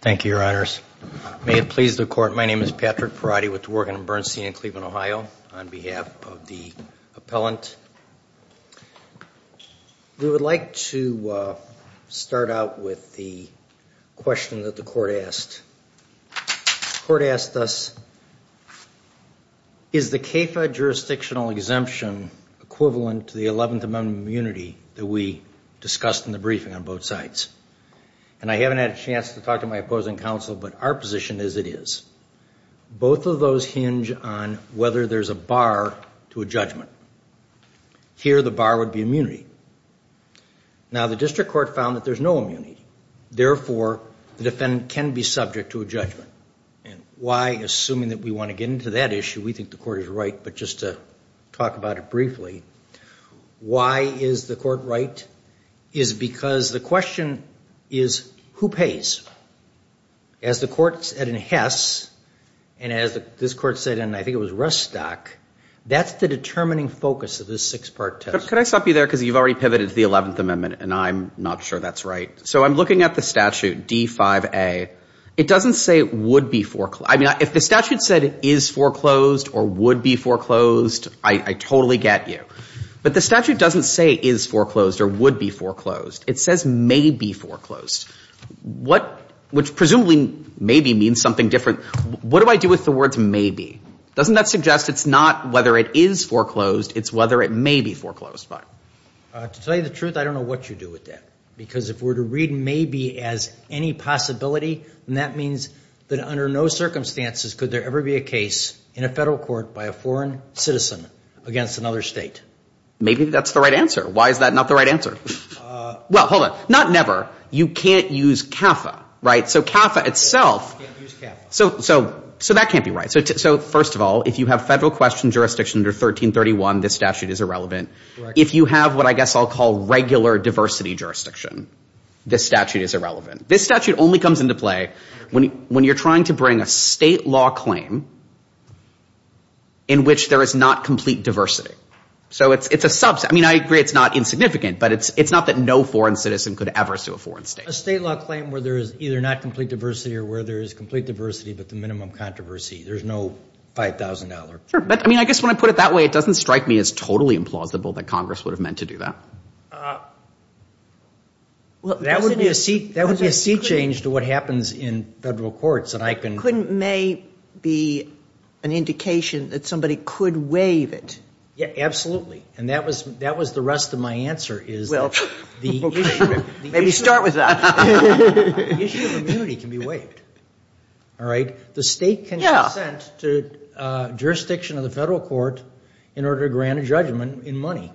Thank you, Your Honors. May it please the Court, my name is Patrick Perotti with Dworgen & Bernstein in Cleveland, Ohio, on behalf of the appellant. We would like to start out with the question that the Court asked. The Court asked us, is the CAFA jurisdictional exemption equivalent to the Eleventh Amendment of Immunity that we to talk to my opposing counsel, but our position is it is. Both of those hinge on whether there's a bar to a judgment. Here the bar would be immunity. Now the District Court found that there's no immunity. Therefore, the defendant can be subject to a judgment. And why, assuming that we want to get into that issue, we think the Court is right, but just to talk about it briefly, why is the Court right is because the question is, who pays? As the Court said in Hess, and as this Court said in, I think it was Rustock, that's the determining focus of this six-part test. Could I stop you there because you've already pivoted to the Eleventh Amendment, and I'm not sure that's right. So I'm looking at the statute D5A. It doesn't say would be foreclosed. I mean, if the statute said is foreclosed or would be foreclosed, I totally get you. But the statute doesn't say is foreclosed or would be foreclosed. It says may be foreclosed. What — which presumably may be means something different. What do I do with the words may be? Doesn't that suggest it's not whether it is foreclosed, it's whether it may be foreclosed by? To tell you the truth, I don't know what you do with that. Because if we're to read may be as any possibility, then that means that under no circumstances could there ever be a case in a Federal court by a foreign citizen against another State. Maybe that's the right answer. Why is that not the right answer? Well, hold on. Not never. You can't use CAFA, right? So CAFA itself — So that can't be right. So first of all, if you have Federal question jurisdiction under 1331, this statute is irrelevant. If you have what I guess I'll call regular diversity jurisdiction, this statute is irrelevant. This statute only comes into play when you're trying to bring a State law claim in which there is not complete diversity. So it's a subset. I mean, I agree it's not insignificant, but it's not that no foreign citizen could ever sue a foreign State. A State law claim where there is either not complete diversity or where there is complete diversity but the minimum controversy. There's no $5,000. Sure. But I mean, I guess when I put it that way, it doesn't strike me as totally implausible that Congress would have meant to do that. Well, that would be a seat change to what happens in Federal courts. Couldn't maybe be an indication that somebody could waive it? Yeah, absolutely. And that was the rest of my answer is that the issue of immunity can be waived, all right? The State can consent to jurisdiction of the Federal court in order to grant a judgment in money,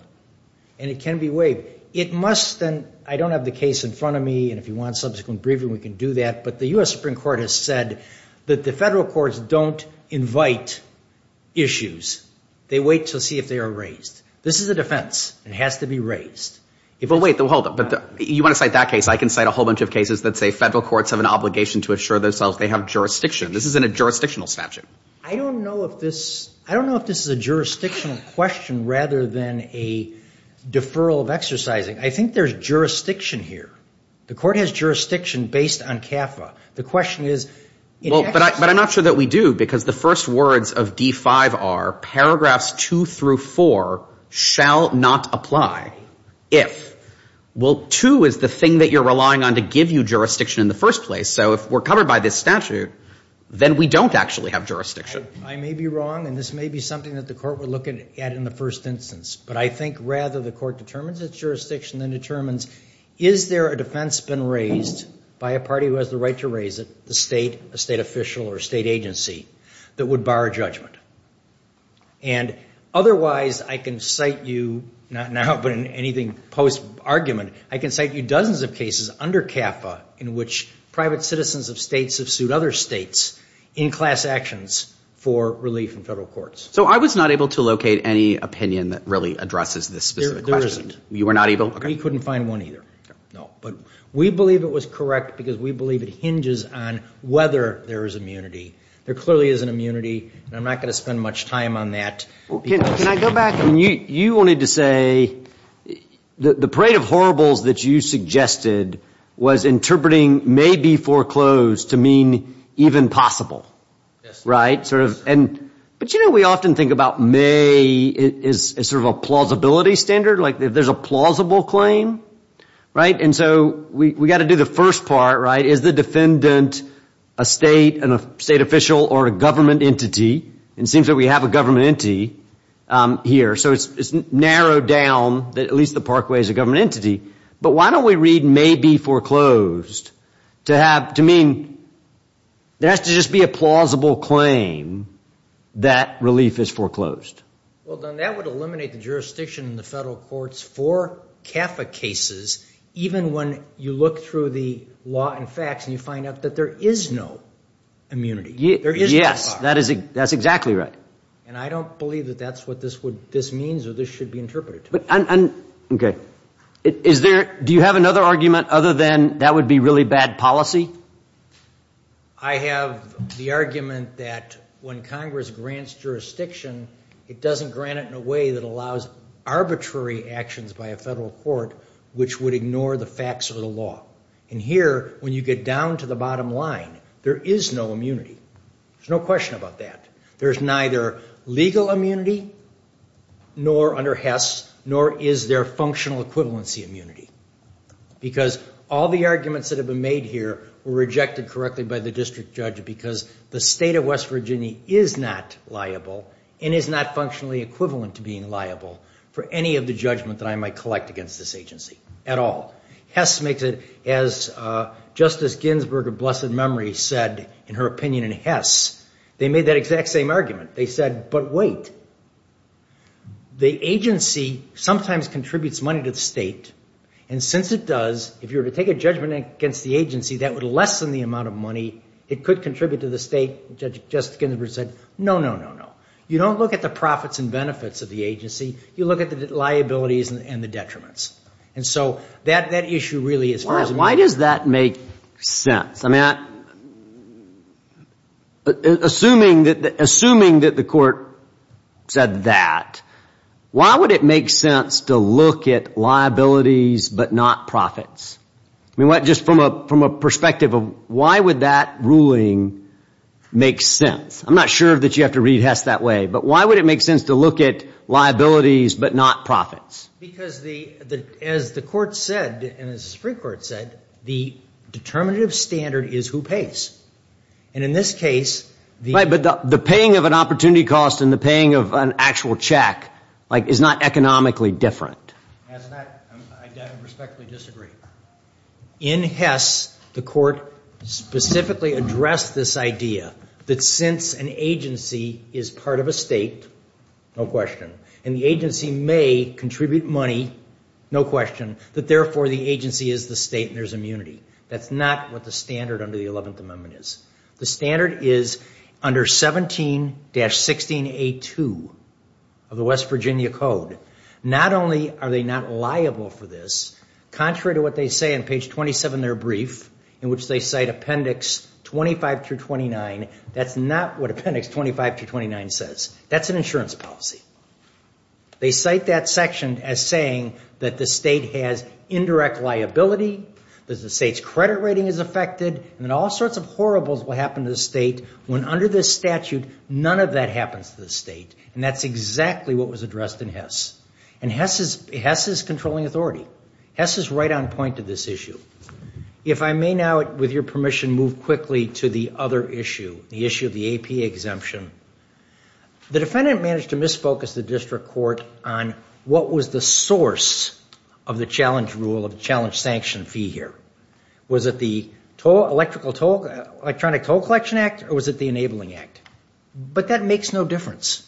and it can be waived. It must then — I don't have the case in front of me, and if you want subsequent briefing we can do that — but the U.S. Supreme Court has said that the Federal courts don't invite issues. They wait to see if they are raised. This is a defense. It has to be raised. Well, wait, hold up. You want to cite that case, I can cite a whole bunch of cases that say Federal courts have an obligation to assure themselves they have jurisdiction. This isn't a jurisdictional statute. I don't know if this — I don't know if this is a jurisdictional question rather than a deferral of exercising. I think there's jurisdiction here. The court has jurisdiction based on CAFA. The question is — Well, but I'm not sure that we do, because the first words of D-5 are paragraphs 2 through 4 shall not apply if — well, 2 is the thing that you're relying on to give you jurisdiction in the first place. So if we're covered by this statute, then we don't actually have jurisdiction. I may be wrong, and this may be something that the court would look at in the first instance. But I think, rather, the court determines its jurisdiction and determines, is there a defense been raised by a party who has the right to raise it, the state, a state official or a state agency, that would bar judgment? And otherwise, I can cite you — not now, but in anything post-argument — I can cite you dozens of cases under CAFA in which private citizens of states have sued other states in class actions for relief in Federal courts. So I was not able to locate any opinion that really addresses this specific question. There isn't. You were not able? We couldn't find one either. No. But we believe it was correct because we believe it hinges on whether there is immunity. There clearly isn't immunity, and I'm not going to spend much time on that. Can I go back? You wanted to say the parade of horribles that you suggested was interpreting may be foreclosed to mean even possible. Yes. Right. But you know, we often think about may as sort of a plausibility standard, like if there's a plausible claim, right? And so we've got to do the first part, right? Is the defendant a state and a state official or a government entity? And it seems that we have a government entity here. So it's narrowed down that at least the Parkway is a government entity. But why don't we read may be foreclosed to mean there has to just be a plausible claim that relief is foreclosed. Well, then that would eliminate the jurisdiction in the federal courts for CAFA cases even when you look through the law and facts and you find out that there is no immunity. Yes. That's exactly right. And I don't believe that that's what this means or this should be interpreted to be. Okay. Do you have another argument other than that would be really bad policy? I have the argument that when Congress grants jurisdiction, it doesn't grant it in a way that allows arbitrary actions by a federal court which would ignore the facts of the law. And here, when you get down to the bottom line, there is no immunity. There's no question about that. There's neither legal immunity nor under HES nor is there functional equivalency immunity. Because all the arguments that have been made here were rejected correctly by the district judge because the state of West Virginia is not liable and is not functionally equivalent to being liable for any of the judgment that I might collect against this agency at all. HES makes it as Justice Ginsburg of blessed memory said in her opinion in HES, they made that exact same argument. They said, but wait, the agency sometimes contributes money to the state and since it does, if you were to take a judgment against the agency, that would lessen the amount of money. It could contribute to the state. Justice Ginsburg said, no, no, no, no. You don't look at the profits and benefits of the agency. You look at the liabilities and the detriments. And so that issue really is frozen. Why does that make sense? I mean, assuming that the court said that, why would it make sense to look at liabilities but not profits? I mean, just from a perspective of why would that ruling make sense? I'm not sure that you have to read HES that way, but why would it make sense to look at liabilities but not profits? Because as the court said and as the Supreme Court said, the determinative standard is who pays. And in this case, the Right, but the paying of an opportunity cost and the paying of an actual check is not economically different. I respectfully disagree. In HES, the court specifically addressed this idea that since an agency is part of a state, no question, and the agency may contribute money, no question, that therefore the agency is the state and there's immunity. That's not what the standard under the 11th Amendment is. The standard is under 17-16A2 of the West Virginia Code. Not only are they not liable for this, contrary to what they say on page 27 in their brief in which they cite Appendix 25-29, that's not what Appendix 25-29 says. That's an insurance policy. They cite that section as saying that the state has indirect liability, that the state's credit rating is affected, and that all sorts of horribles will happen to the state when under this statute, none of that happens to the state. And that's exactly what was addressed in HES. And HES is controlling authority. HES is right on point to this issue. If I may now, with your permission, move quickly to the other issue, the issue of the APA exemption. The defendant managed to misfocus the district court on what was the source of the challenge rule, of the challenge sanction fee here. Was it the Electronic Toll Collection Act or was it the Enabling Act? But that makes no difference.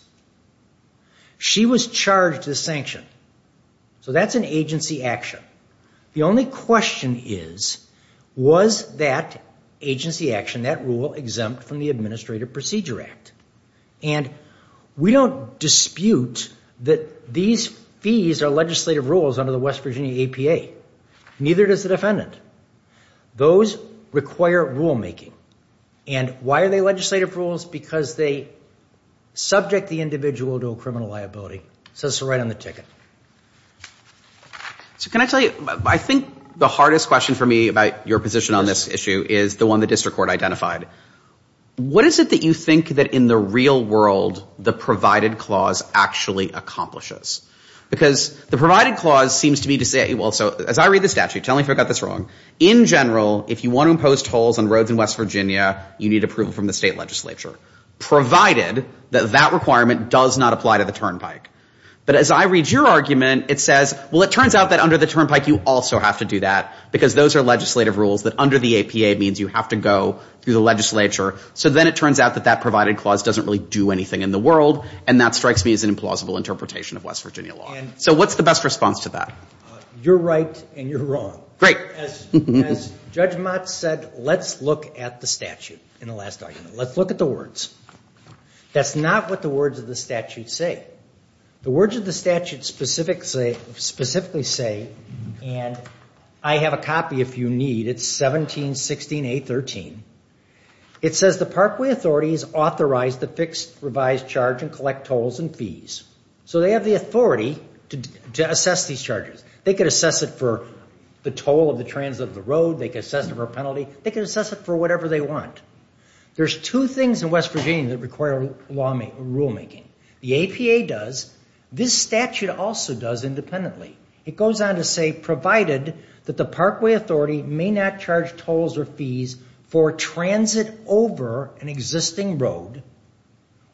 She was charged the sanction. So that's an agency action. The only question is, was that agency action, that rule exempt from the Administrative Procedure Act? And we don't dispute that these fees are legislative rules under the West Virginia APA. Neither does the defendant. Those require rulemaking. And why are they legislative rules? Because they subject the individual to a criminal liability. So it's right on the ticket. So can I tell you, I think the hardest question for me about your position on this issue is the one the district court identified. What is it that you think that in the real world the provided clause actually accomplishes? Because the provided clause seems to me to say, as I read the statute, tell me if I got this wrong, in general, if you want to impose tolls on roads in West Virginia, you need approval from the state legislature. Provided that that requirement does not apply to the turnpike. But as I read your argument, it says, well it turns out that under the turnpike you also have to do that because those are legislative rules that under the APA means you have to go through the legislature. So then it turns out that that provided clause doesn't really do anything in the world and that strikes me as an implausible interpretation of West Virginia law. So what's the best response to that? You're right and you're wrong. As Judge Mott said, let's look at the statute in the last argument. Let's look at the words. That's not what the words of the statute say. The words of the statute specifically say and I have a copy if you need. It's 1716A13. It says the Parkway Authority is authorized to fix revised charge and collect tolls and fees. So they have the authority to assess these charges. They could assess it for the toll of the transit of the road. They could assess it for a penalty. They could assess it for whatever they want. There's two things in West Virginia that require rulemaking. The APA does. This statute also does independently. It goes on to say provided that the Parkway Authority may not charge tolls or fees for transit over an existing road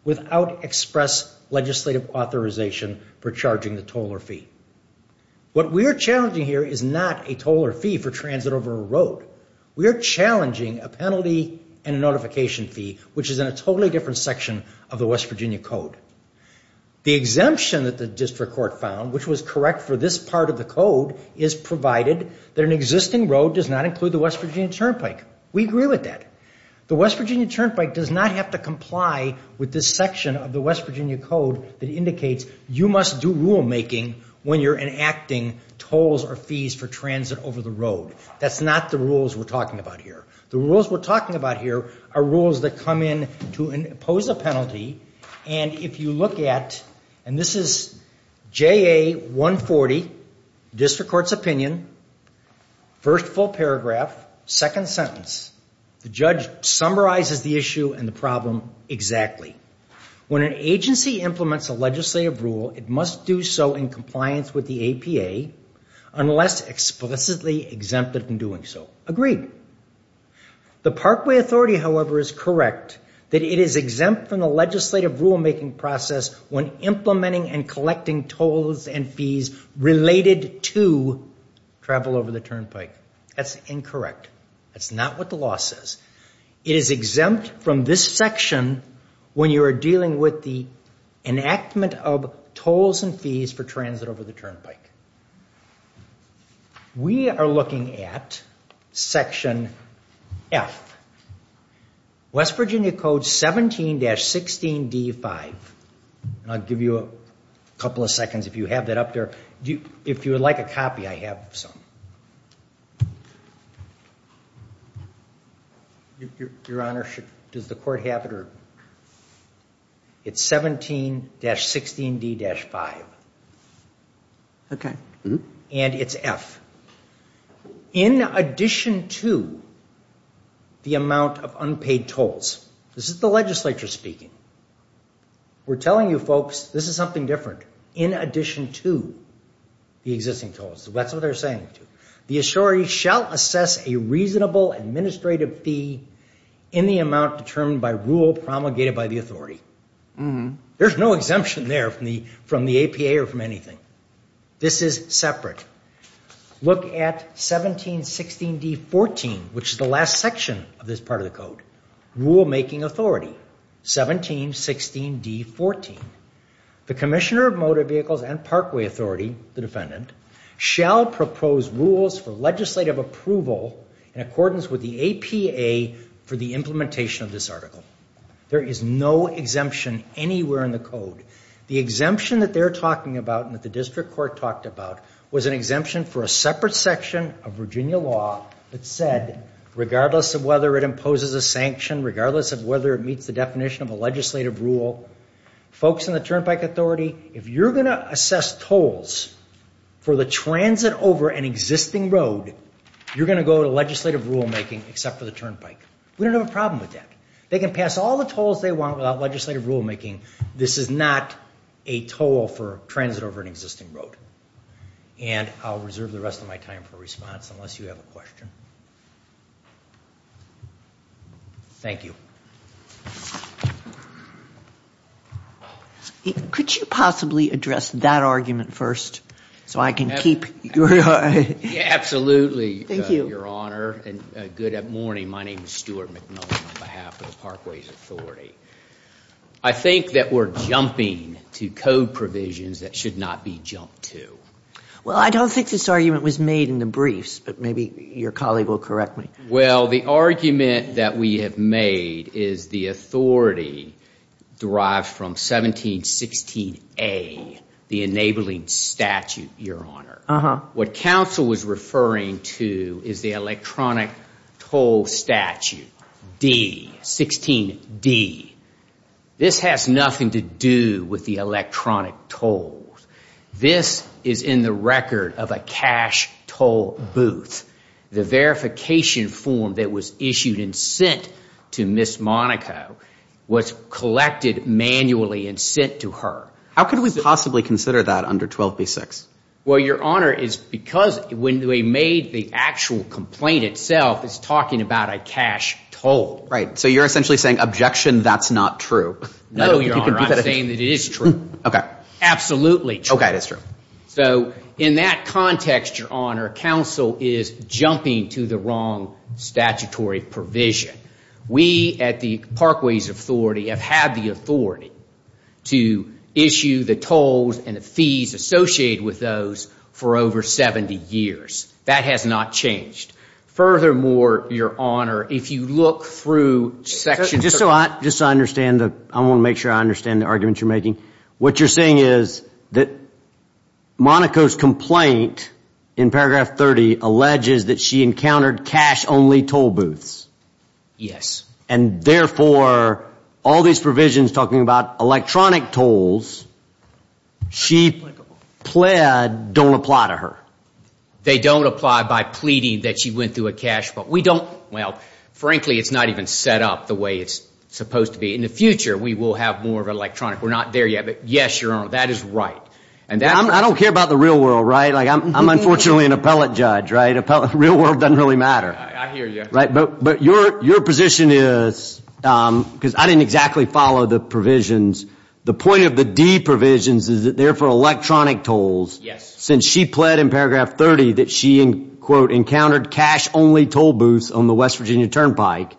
without express legislative authorization for charging the toll or fee. What we are challenging here is not a toll or fee for transit over a road. We are challenging a penalty and a notification fee which is in a totally different section of the West Virginia Code. The exemption that the District Court found which was correct for this part of the Code is provided that an existing road does not include the West Virginia Turnpike. We agree with that. The West Virginia Turnpike does not have to comply with this section of the West Virginia Code that indicates you must do rulemaking when you're enacting tolls or fees for transit over the road. That's not the rules we're talking about here. The rules we're talking about here are rules that come in to impose a penalty and if you look at and this is JA 140, District Court's opinion, first full paragraph, second sentence. The judge summarizes the issue and the problem exactly. When an agency implements a legislative rule it must do so in compliance with the APA unless explicitly exempted from doing so. Agreed. The Parkway Authority, however, is correct that it is exempt from the legislative rulemaking process when implementing and collecting tolls and fees related to travel over the Turnpike. That's incorrect. That's not what the law says. It is exempt from this section when you are dealing with the enactment of tolls and fees for transit over the Turnpike. We are looking at section F. West Virginia Code 17-16d5 I'll give you a couple of seconds if you have that up there. If you would like a copy, I have some. Your Honor, does the court have it? It's 17-16d-5 and it's F. In addition to the amount of unpaid tolls, this is the legislature speaking, we're telling you folks this is something different. In addition to the existing tolls. That's what they're saying. The authority shall assess a reasonable administrative fee in the amount determined by rule promulgated by the authority. There's no exemption there from the APA or from anything. This is separate. Look at 17-16d-14 which is the last section of this part of the Code. Rule making authority 17-16d-14 The Commissioner of Motor Vehicles and Parkway Authority, the defendant shall propose rules for legislative approval in accordance with the APA for the implementation of this article. There is no exemption anywhere in the Code. The exemption that they're talking about and that the District Court talked about was an exemption for a separate section of Virginia law that said regardless of whether it imposes a sanction, regardless of whether it meets the definition of a legislative rule folks in the Turnpike Authority if you're going to assess tolls for the transit over an existing road you're going to go to legislative rule making except for the turnpike. We don't have a problem with that. They can pass all the tolls they want without legislative rule making. This is not a toll for transit over an existing road. I'll reserve the rest of my time for response unless you have a question. Thank you. Could you possibly address that argument first so I can keep your eye? Absolutely, Your Honor. Good morning. My name is Stuart McMillan on behalf of the Parkways Authority. I think that we're jumping to code provisions that should not be jumped to. Well, I don't think this argument was made in the briefs, but maybe your colleague will correct me. Well, the argument that we have made is the authority derived from 1716A the enabling statute, Your Honor. What counsel was referring to is the electronic toll statute 16D This has nothing to do with the electronic tolls. This is in the record of a cash toll booth. The verification form that was issued and sent to Ms. Monaco was collected manually and sent to her. How could we possibly consider that under 12B6? Well, Your Honor, it's because when we made the actual complaint itself it's talking about a cash toll. Right. So you're essentially saying objection, that's not true. No, Your Honor. I'm saying that it is true. Absolutely true. So in that context, Your Honor, counsel is jumping to the wrong statutory provision. We at the Parkways Authority have had the authority to issue the tolls and the fees associated with those for over 70 years. That has not changed. Furthermore, Your Honor, if you look through sections Just so I understand, I want to make sure I understand the argument you're making. What you're saying is that Monaco's complaint in paragraph 30 alleges that she encountered cash only toll booths. Yes. And therefore, all these provisions talking about electronic tolls, she pled don't apply to her. They don't apply by pleading that she went through a cash... Frankly, it's not even set up the way it's supposed to be. In the future, we will have more electronic. We're not there yet. But yes, Your Honor, that is right. I don't care about the real world. I'm unfortunately an appellate judge. Real world doesn't really matter. But your position is... I didn't exactly follow the provisions. The point of the D provisions is that they're for electronic tolls. Since she pled in paragraph 30 that she encountered cash only toll booths on the West Virginia Turnpike,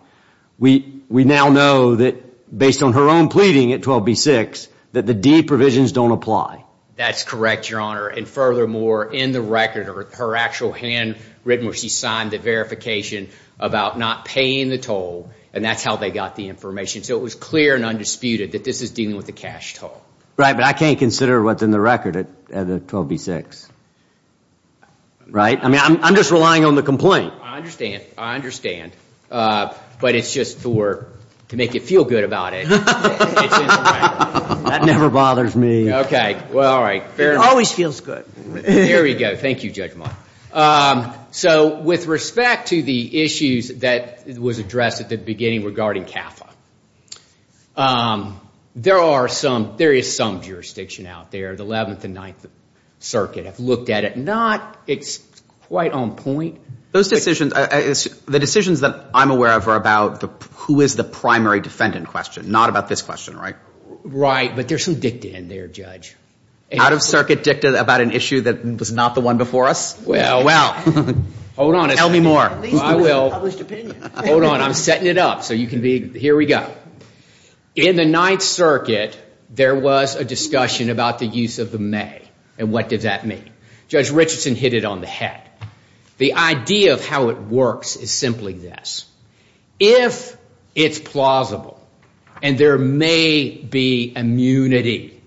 we now know that, based on her own pleading at 12B6, that the D provisions don't apply. That's correct, Your Honor. And furthermore, in the record, her actual hand written where she signed the verification about not paying the toll and that's how they got the information. So it was clear and undisputed that this is dealing with a cash toll. Right, but I can't consider what's in the record at 12B6. Right? I mean, I'm just relying on the complaint. I understand, I understand. But it's just for to make you feel good about it. That never bothers me. Okay, well, all right. It always feels good. There we go. Thank you, Judge Mott. So with respect to the issues that was addressed at the beginning regarding CAFA, there are some there is some jurisdiction out there the 11th and 9th Circuit have looked at it. Not, it's quite on point. Those decisions the decisions that I'm aware of are about who is the primary defendant question. Not about this question, right? Right, but there's some dicta in there, Judge. Out of circuit dicta about an issue that was not the one before us? Well, well. Hold on. Tell me more. I will. Hold on, I'm setting it up so you can be, here we go. In the 9th Circuit there was a discussion about the use of the may. And what does that mean? Judge Richardson hit it on the head. The idea of how it works is simply this. If it's plausible and there may be immunity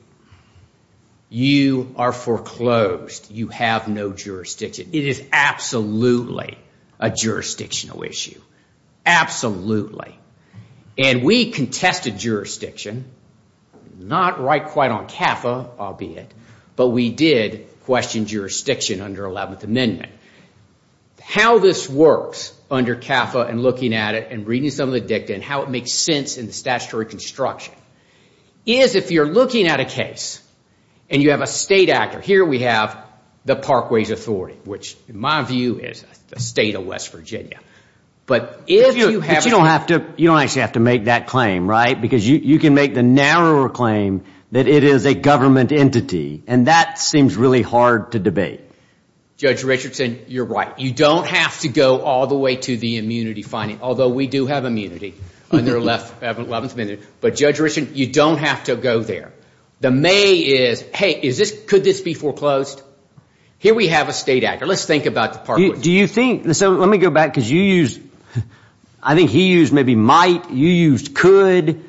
you are foreclosed. You have no jurisdiction. It is absolutely Absolutely. And we contested jurisdiction. Not right quite on CAFA, albeit. But we did question jurisdiction under 11th Amendment. How this works under CAFA and looking at it and reading some of the dicta and how it makes sense in the statutory construction is if you're looking at a case and you have a state actor. Here we have the Parkways Authority which in my view is the state of West Virginia. But if you have You don't actually have to make that claim, right? Because you can make the narrower claim that it is a government entity and that seems really hard to debate. Judge Richardson, you're right. You don't have to go all the way to the immunity finding. Although we do have immunity under 11th Amendment. But Judge Richardson, you don't have to go there. The may is, hey, could this be foreclosed? Here we have a state actor. Let's think about the Parkways Authority. Let me go back because you used I think he used maybe might you used could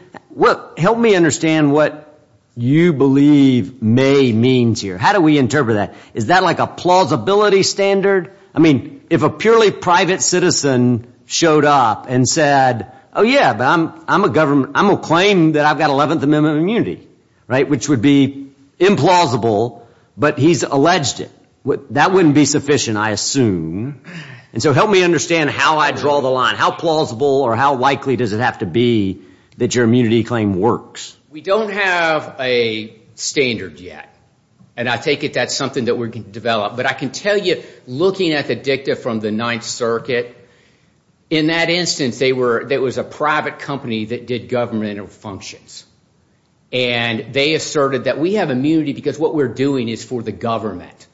Help me understand what you believe may means here. How do we interpret that? Is that like a plausibility standard? I mean, if a purely private citizen showed up and said, oh yeah, I'm a claim that I've got 11th Amendment immunity, right? Which would be implausible but he's alleged it. That wouldn't be sufficient, I assume. And so help me understand how I draw the line. How plausible or how likely does it have to be that your immunity claim works? We don't have a standard yet. And I take it that's something that we're going to develop. But I can tell you looking at the dicta from the Ninth Circuit in that instance there was a private company that did governmental functions. And they asserted that we have immunity because what we're doing is for the government.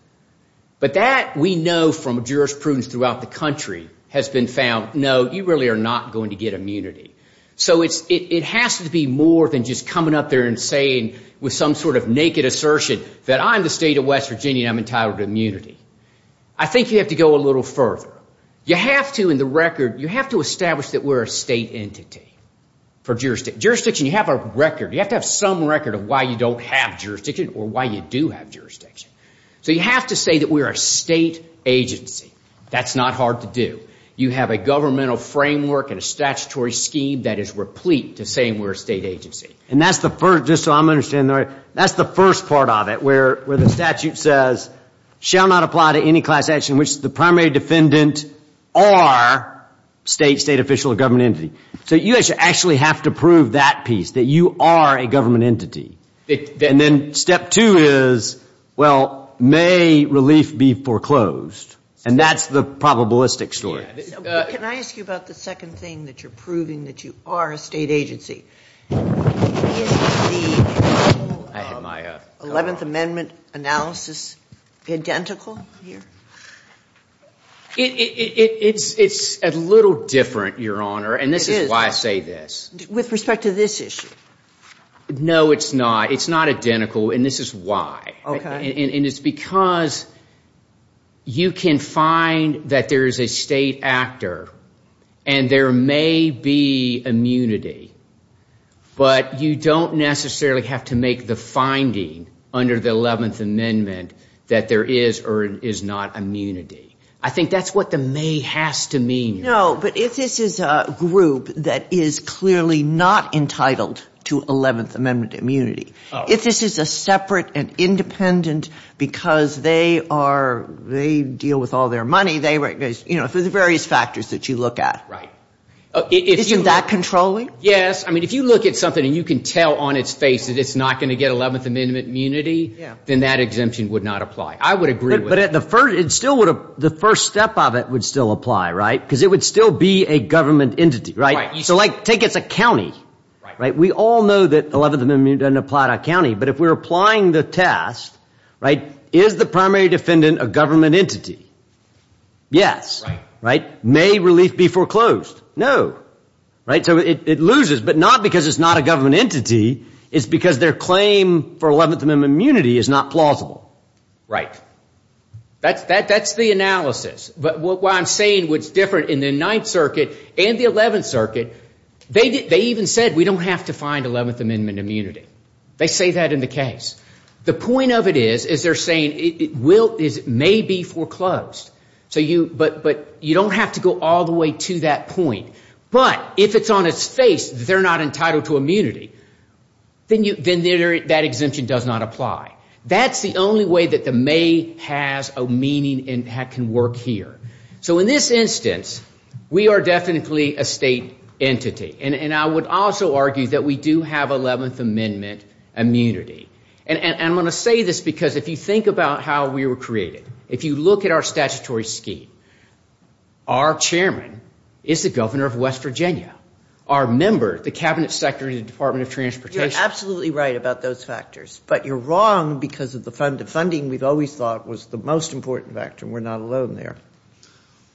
But that we know from jurisprudence throughout the country has been found no, you really are not going to get immunity. So it has to be more than just coming up there and saying with some sort of naked assertion that I'm the state of West Virginia and I'm entitled to immunity. I think you have to go a little further. You have to in the record, you have to establish that we're a state entity for jurisdiction. Jurisdiction, you have a record. You have to have some record of why you don't have jurisdiction or why you do have jurisdiction. So you have to say that we're a state agency. That's not hard to do. You have a governmental framework and a statutory scheme that is replete to saying we're a state agency. And that's the first part of it where the statute says shall not apply to any class action in which the primary defendant are state official or government entity. So you actually have to prove that piece, that you are a government entity. And then step two is, well may relief be foreclosed. And that's the probabilistic story. Can I ask you about the second thing that you're proving that you are a state agency? Is the Eleventh Amendment analysis identical here? It's a little different, Your Honor, and this is why I say this. With respect to this issue? No, it's not. It's not identical and this is why. And it's because you can find that there is a state actor and there may be immunity but you don't necessarily have to make the finding under the Eleventh Amendment that there is or is not immunity. I think that's what the may has to mean. No, but if this clearly not entitled to Eleventh Amendment immunity, if this is a separate and independent because they deal with all their money, there's various factors that you look at. Right. Isn't that controlling? Yes. I mean, if you look at something and you can tell on its face that it's not going to get Eleventh Amendment immunity, then that exemption would not apply. I would agree with that. The first step of it would still apply, right? Because it would still be a government entity, right? So like, take it as a county, right? We all know that Eleventh Amendment doesn't apply to a county, but if we're applying the test, right, is the primary defendant a government entity? Yes, right? May relief be foreclosed? No. Right? So it loses, but not because it's not a government entity, it's because their claim for Eleventh Amendment immunity is not plausible. Right. That's the analysis, but what I'm saying what's different in the Ninth Circuit and the Eleventh Circuit, they even said we don't have to find Eleventh Amendment immunity. They say that in the case. The point of it is, is they're saying it may be foreclosed, but you don't have to go all the way to that point, but if it's on its face that they're not entitled to immunity, then that exemption does not apply. That's the only way that the may has a meaning and can work here. So in this instance, we are definitely a state entity, and I would also say that we have Eleventh Amendment immunity, and I'm going to say this because if you think about how we were created, if you look at our statutory scheme, our chairman is the governor of West Virginia. Our member, the cabinet secretary of the Department of Transportation. You're absolutely right about those factors, but you're wrong because of the funding we've always thought was the most important factor. We're not alone there.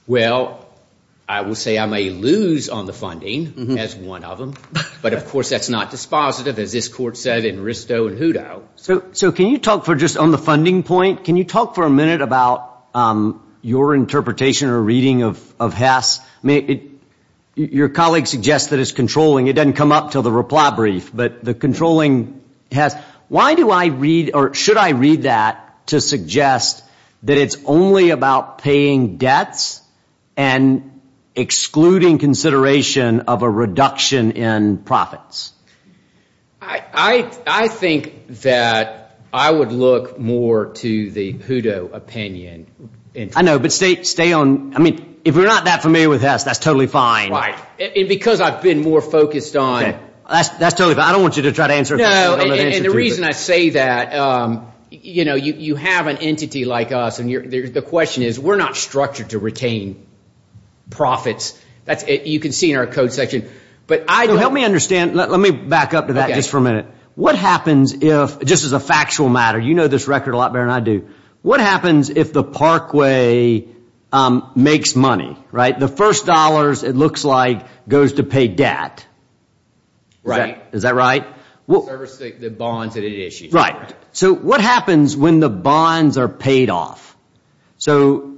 Well, I will say I may lose on the funding as one of them, but of course that's not dispositive as this Court said in Risto and Hutto. So can you talk for just on the funding point, can you talk for a minute about your interpretation or reading of Hess? Your colleague suggests that it's controlling. It doesn't come up until the reply brief, but the controlling Hess. Why do I read or should I read that to suggest that it's only about paying debts and excluding consideration of a reduction in profits? I think that I would look more to the Hutto opinion. I know, but stay on, I mean, if you're not that familiar with Hess, that's totally fine. Right. And because I've been more focused on That's totally fine. I don't want you to try to answer No, and the reason I say that you know, you have an entity like us and the question is we're not structured to retain profits. You can see in our code section. Help me understand. Let me back up to that just for a minute. What happens if just as a factual matter, you know this record a lot better than I do. What happens if the parkway makes money, right? The first dollars it looks like goes to pay debt. Right. Is that right? The bonds that it issues. Right. So what happens when the bonds are paid off? In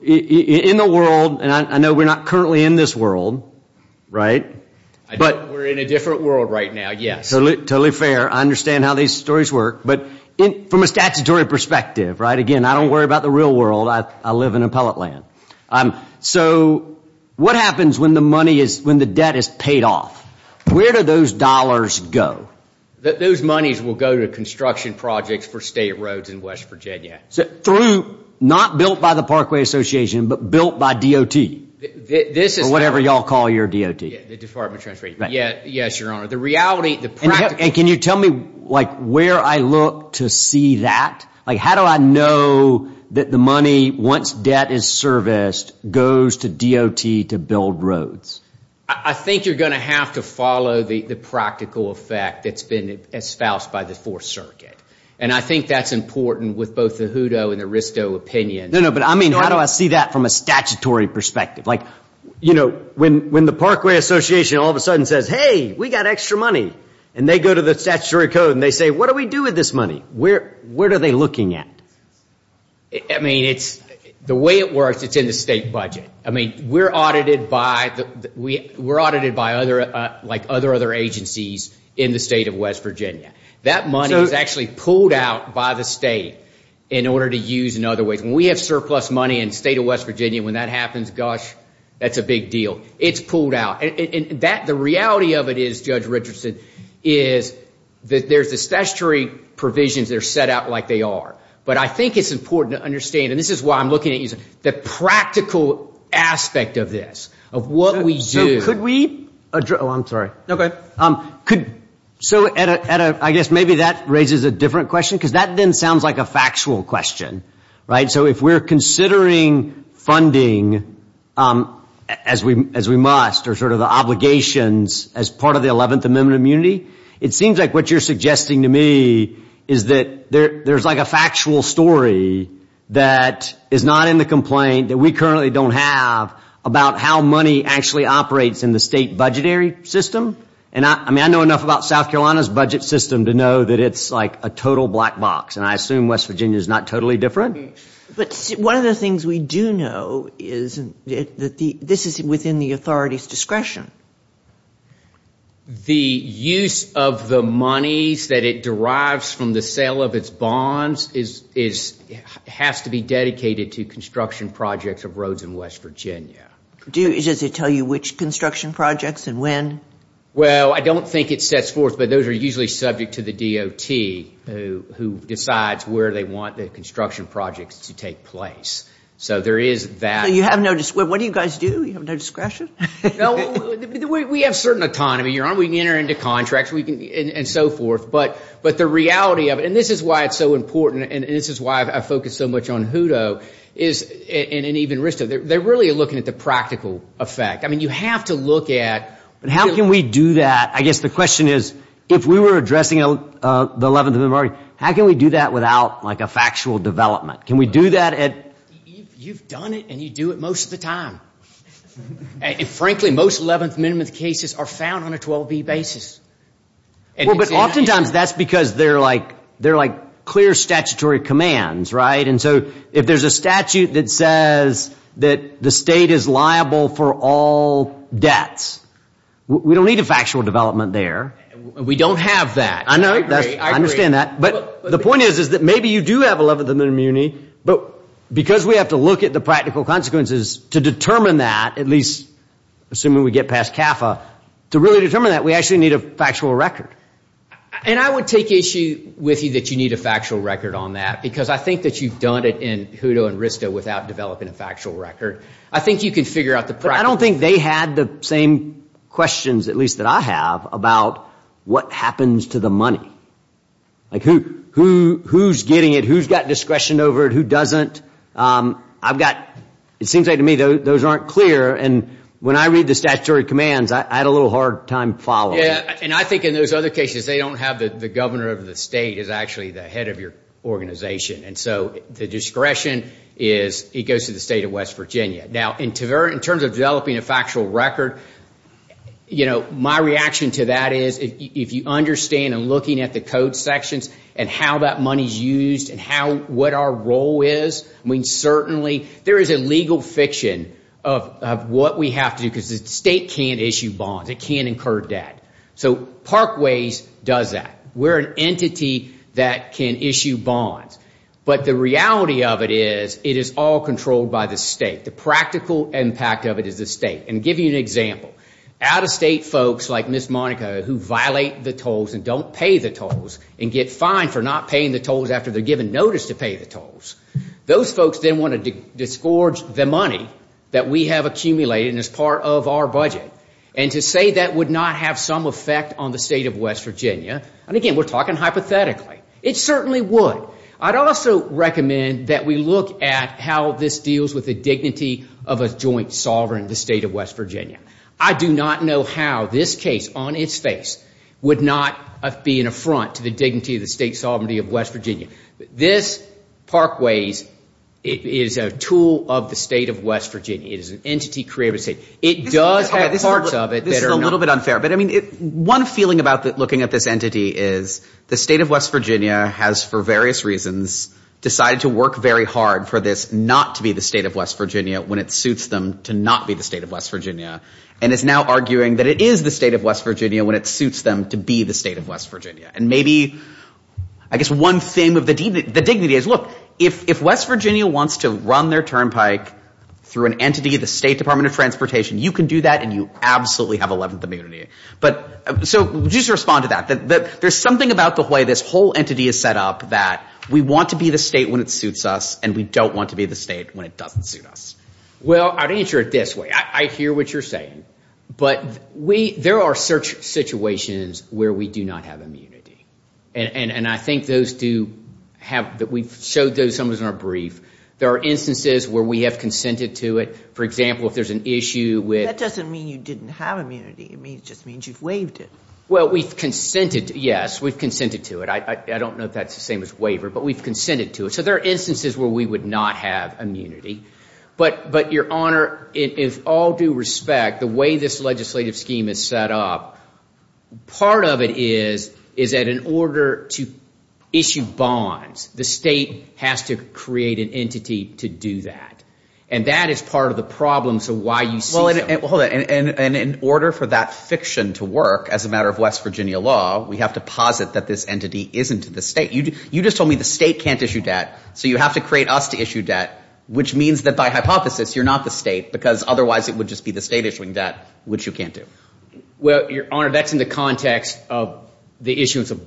the world, and I know we're not currently in this world, right? We're in a different world right now, yes. Totally fair. I understand how these stories work, but from a statutory perspective, again, I don't worry about the real world. I live in appellate land. So what happens when the money is, when the debt is paid off? Where do those dollars go? Those monies will go to construction projects for state roads in West Virginia. Through, not built by the Parkway Association, but built by DOT? This is... Or whatever y'all call your DOT. The Department of Transportation. Yes, Your Honor. The reality, the practical... And can you tell me where I look to see that? How do I know that the money, once debt is serviced, goes to DOT to build roads? I think you're going to have to follow the practical effect that's been espoused by the Fourth Circuit. And I think that's important with both the Hutto and the Risto opinions. No, no, but I mean, how do I see that from a statutory perspective? Like, you know, when the Parkway Association all of a sudden says, hey, we got extra money, and they go to the statutory code and they say, what do we do with this money? Where are they looking at? I mean, it's, the way it works, it's in the state budget. I mean, we're audited by the, we're audited by other, like other other agencies in the state of West Virginia. That money is actually pulled out by the state in order to use in other ways. When we have surplus money in the state of West Virginia, when that happens, gosh, that's a big deal. It's pulled out. And that, the reality of it is, Judge Richardson, is that there's a statutory provisions that are set out like they are. But I think it's important to understand, and this is why I'm looking at you, the practical aspect of this, of what we do. So could we address, oh, I'm sorry. Could, so at a, I guess maybe that raises a different question, because that then sounds like a factual question. Right? So if we're considering funding as we must, or sort of the obligations as part of the 11th Amendment of Immunity, it seems like what you're suggesting to me is that there's like a factual story that is not in the complaint that we currently don't have about how money actually operates in the state budgetary system. And I mean, I know enough about South Carolina's budget system to know that it's like a total black box. And I assume West Virginia is not totally different. But one of the things we do know is that this is within the authority's discretion. The use of the money that it derives from the sale of its bonds has to be dedicated to construction projects of roads in the state of South Carolina. Does that tell you which construction projects and when? Well, I don't think it sets forth, but those are usually subject to the DOT who decides where they want the construction projects to take place. So there is that. So you have no, what do you guys do? You have no discretion? No, we have certain autonomy. We can enter into contracts and so forth. But the reality of it, and this is why it's so important, and this is why I focus so much on HUDO, and even RISDO, they're really looking at the practical effect. You have to look at... How can we do that? I guess the question is if we were addressing the 11th Amendment, how can we do that without a factual development? You've done it and you do it most of the time. And frankly, most 11th Amendment cases are found on a 12B basis. Well, but oftentimes that's because they're like clear statutory commands, right? And so if there's a statute that says that the state is liable for all debts, we don't need a factual development there. We don't have that. I agree. I understand that. But the point is that maybe you do have 11th Amendment immunity, but because we have to look at the practical consequences to determine that, at least assuming we get past CAFA, to really determine that, we actually need a factual record. And I would take issue with you that you need a factual record on that because I think that you've done it in Hutto and Risto without developing a factual record. I think you can figure out the practical... But I don't think they had the same questions, at least that I have, about what happens to the money. Like who's getting it? Who's got discretion over it? Who doesn't? I've got... It seems like to me those aren't clear and when I read the statutory commands, I had a little hard time following. And I think in those other cases they don't have the governor of the state as actually the head of your organization. And so the discretion goes to the state of West Virginia. Now in terms of developing a factual record, my reaction to that is if you understand and looking at the code sections and how that money is used and what our role is, I mean certainly there is a legal fiction of what we have to do because the state can't issue bonds. It can't incur debt. So Parkways does that. We're an entity that can issue bonds. But the reality of it is it is all controlled by the state. The practical impact of it is the state. And to give you an example, out-of-state folks like Ms. Monica who violate the tolls and don't pay the tolls and get fined for not paying the tolls after they're given notice to pay the tolls, those folks then want to disgorge the money that we have accumulated and is part of our budget. And to say that would not have some effect on the state of West Virginia, and again we're talking hypothetically, it certainly would. I'd also recommend that we look at how this deals with the dignity of a joint sovereign of the state of West Virginia. I do not know how this case on its face would not be an affront to the dignity of the state sovereignty of West Virginia. This, Parkways, is a tool of the state of West Virginia. It is an entity created by the state. It does have parts of it that are not... This is a little bit unfair, but I mean one feeling about looking at this entity is the state of West Virginia has for various reasons decided to work very hard for this not to be the state of West Virginia when it suits them to not be the state of West Virginia. And it's now arguing that it is the state of West Virginia when it suits them to be the state of West Virginia. And maybe I guess one thing of the dignity is, look, if West Virginia wants to run their turnpike through an entity of the State Department of Transportation, you can do that and you absolutely have 11th immunity. So just respond to that. There's something about the way this whole entity is set up that we want to be the state when it suits us and we don't want to be the state when it doesn't suit us. Well, I'd answer it this way. I hear what you're saying, but there are situations where we do not have immunity. And I think those do we've showed those in our brief. There are instances where we have consented to it. For example, if there's an issue with... That doesn't mean you didn't have immunity. It just means you've waived it. Well, we've consented to it. Yes, we've consented to it. I don't know if that's the same as waiver, but we've consented to it. So there are instances where we would not have immunity. But Your Honor, in all due respect, the way this legislative scheme is set up, part of it is that in order to issue bonds, the state has to create an entity to do that. And that is part of the problems of why you see... Well, and in order for that fiction to work as a matter of West Virginia law, we have to posit that this entity isn't the state. You just told me the state can't issue debt, so you have to create us to issue debt, which means that by hypothesis, you're not the state, because otherwise it would just be the state issuing debt, which you can't do. Well, Your Honor, that's in the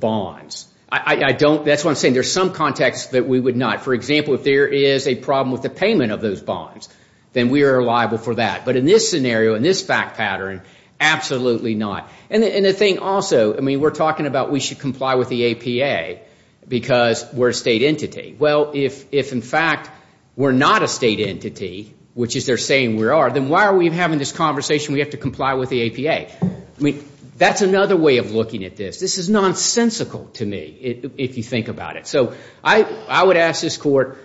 bonds. That's what I'm saying. There's some contexts that we would not. For example, if there is a problem with the payment of those bonds, then we are liable for that. But in this scenario, in this fact pattern, absolutely not. And the thing also, I mean, we're talking about we should comply with the APA because we're a state entity. Well, if in fact we're not a state entity, which is they're saying we are, then why are we having this conversation we have to comply with the APA? I mean, that's another way of looking at this. This is nonsensical to me, if you think about it. So I would ask this court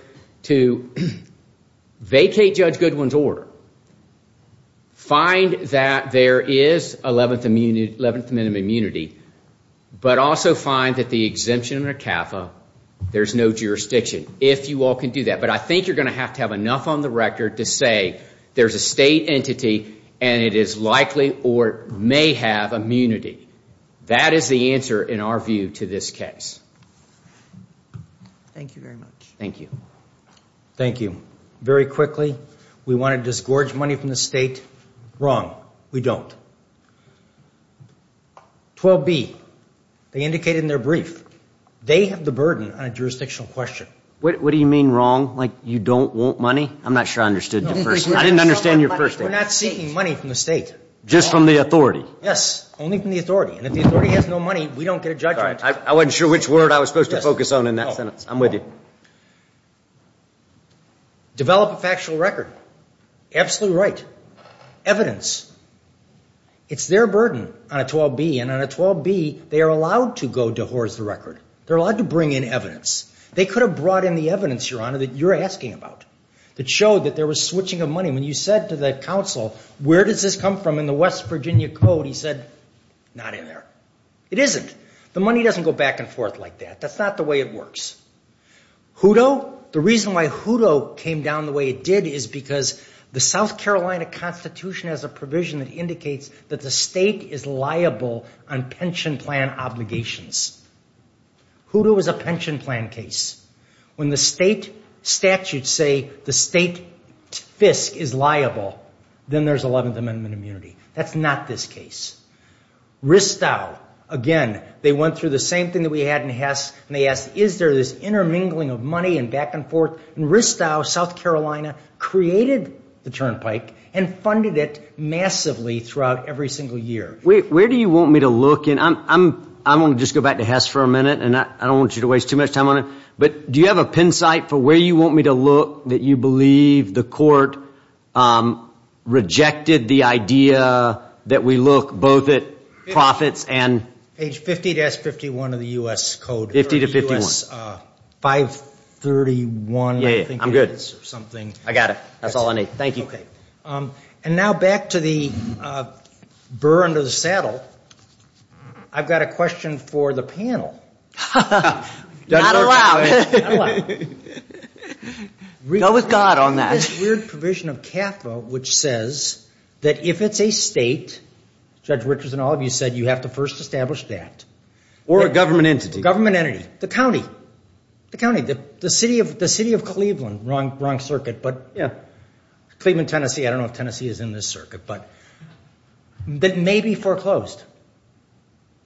vacate Judge Goodwin's order, find that there is 11th minimum immunity, but also find that the exemption in ACAFA, there's no jurisdiction, if you all can do that. But I think you're going to have to have enough on the record to say there's a state entity and it is likely or may have immunity. That is the answer in our view to this case. Thank you very much. Thank you. Thank you. Very quickly, we want to disgorge money from the state. Wrong. We don't. 12B, they indicated in their brief, they have the burden on a jurisdictional question. What do you mean wrong? Like you don't want money? I'm not sure I understood the first thing. I didn't understand your first thing. We're not seeking money from the state. Just from the authority? Yes. Only from the authority. And if the authority has no money, we don't get a judgment. I wasn't sure which word I was supposed to focus on in that sentence. I'm with you. Develop a factual record. Absolutely right. Evidence. It's their burden on a 12B. And on a 12B, they are allowed to go to horse the record. They're allowed to bring in evidence. They could have brought in the evidence, Your Honor, that you're asking about that showed that there was switching of money. When you said to the counsel, where does this come from in the West Virginia Code? He said, not in there. It isn't. The money doesn't go back and forth like that. That's not the way it works. Hutto, the reason why Hutto came down the way it did is because the South Carolina Constitution has a provision that indicates that the state is liable on pension plan obligations. Hutto is a pension plan case. When the state statutes say the state FISC is liable, then there's 11th Amendment immunity. That's not this case. Ristau, again, they went through the same thing that we had in Hess, and they asked, is there this intermingling of money and back and forth? And Ristau, South Carolina, created the turnpike and funded it massively throughout every single year. Where do you want me to look? I want to just go back to Hess for a minute, and I don't want you to waste too much time on it, but do you have a belief that the court rejected the idea that we look both at profits and 50-51 of the U.S. Code? 50-51. 531, I think it is, or something. I got it. That's all I need. Thank you. And now back to the burr under the saddle. I've got a question for the panel. Not allowed. Not allowed. Go with God on that. This weird provision of CAFA, which says that if it's a state, Judge Richards and all of you said, you have to first establish that. Or a government entity. Government entity. The county. The county. The city of Cleveland. Wrong circuit, but Cleveland, Tennessee. I don't know if Tennessee is in this circuit, but maybe foreclosed.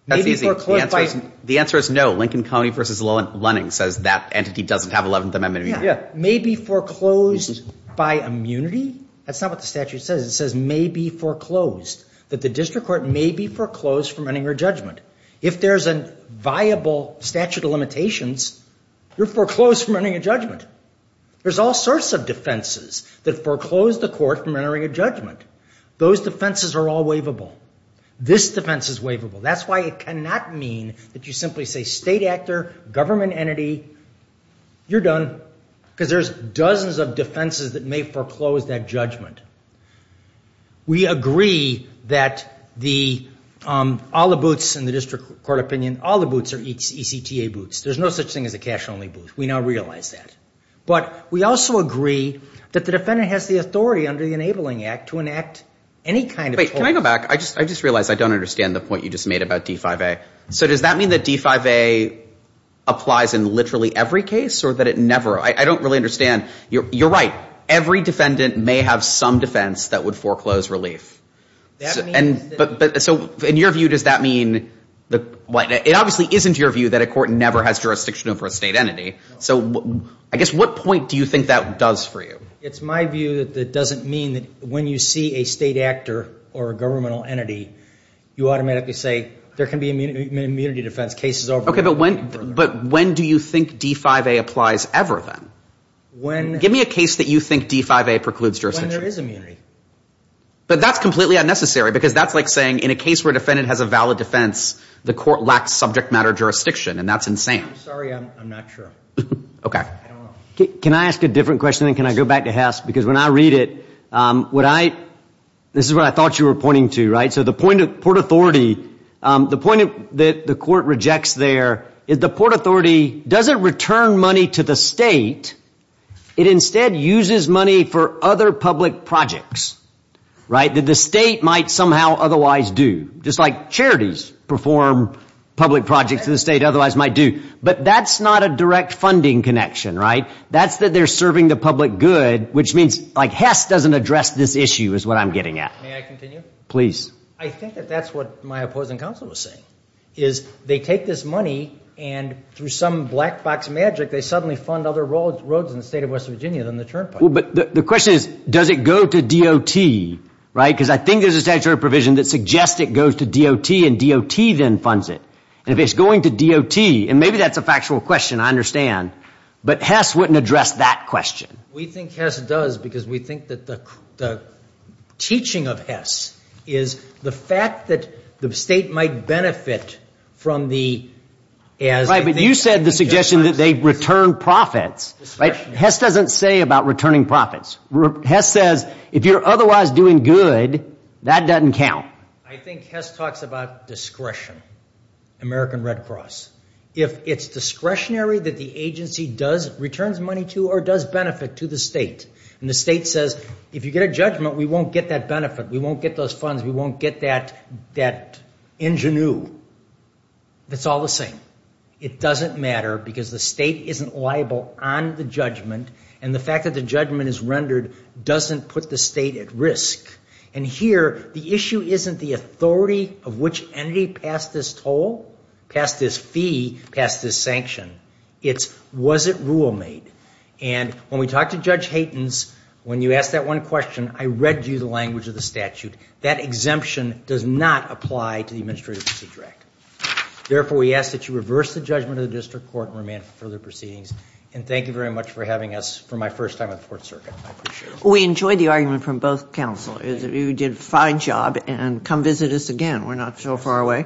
That's easy. The answer is no. Lincoln County v. Lennon says that entity doesn't have 11th Amendment immunity. May be foreclosed by immunity? That's not what the statute says. It says may be foreclosed. That the district court may be foreclosed from entering a judgment. If there's a viable statute of limitations, you're foreclosed from entering a judgment. There's all sorts of defenses that foreclose the court from entering a judgment. Those defenses are all waivable. This defense is waivable. That's why it is a state actor. Government entity. You're done. Because there's dozens of defenses that may foreclose that judgment. We agree that the all the boots in the district court opinion, all the boots are ECTA boots. There's no such thing as a cash only boot. We now realize that. But we also agree that the defendant has the authority under the Enabling Act to enact any kind of... Wait, can I go back? I just realized I don't understand the point you just made about D-5A. Does that mean that D-5A applies in literally every case or that it never... I don't really understand. You're right. Every defendant may have some defense that would foreclose relief. In your view, does that mean... It obviously isn't your view that a court never has jurisdiction over a state entity. What point do you think that does for you? It's my view that it doesn't mean that when you see a state actor or a governmental entity, you automatically say, there can be an immunity defense. Case is over. But when do you think D-5A applies ever then? Give me a case that you think D-5A precludes jurisdiction. When there is immunity. But that's completely unnecessary because that's like saying, in a case where a defendant has a valid defense, the court lacks subject matter jurisdiction, and that's insane. I'm sorry, I'm not sure. Can I ask a different question? Can I go back to Hess? Because when I read it, would I... This is what I thought you were pointing to, right? So the point of Port Authority, the point that the court rejects there is the Port Authority doesn't return money to the state, it instead uses money for other public projects that the state might somehow otherwise do. Just like charities perform public projects that the state otherwise might do. But that's not a direct funding connection, right? That's that they're serving the public good, which means... Like, Hess doesn't address this issue, is what I'm getting at. May I continue? Please. I think that that's what my opposing counsel was saying, is they take this money, and through some black box magic, they suddenly fund other roads in the state of West Virginia than the turnpike. But the question is, does it go to DOT, right? Because I think there's a statutory provision that suggests it goes to DOT, and DOT then funds it. And if it's going to DOT, and maybe that's a factual question, I understand, but Hess wouldn't address that question. We think Hess does because we think that the teaching of Hess is the fact that the state might benefit from the... Right, but you said the suggestion that they return profits. Hess doesn't say about returning profits. Hess says if you're otherwise doing good, that doesn't count. I think Hess talks about discretion. American Red Cross. If it's discretionary that the employer does benefit to the state, and the state says, if you get a judgment, we won't get that benefit. We won't get those funds. We won't get that ingenue. It's all the same. It doesn't matter because the state isn't liable on the judgment, and the fact that the judgment is rendered doesn't put the state at risk. And here, the issue isn't the authority of which entity passed this toll, passed this fee, passed this sanction. It's, was it rule made? And when we talked to Judge Haytens, when you asked that one question, I read you the language of the statute. That exemption does not apply to the Administrative Procedure Act. Therefore, we ask that you reverse the judgment of the district court and remand for further proceedings. And thank you very much for having us for my first time at the Fourth Circuit. I appreciate it. We enjoyed the argument from both counselors. You did a fine job, and come visit us again. We're not so far away.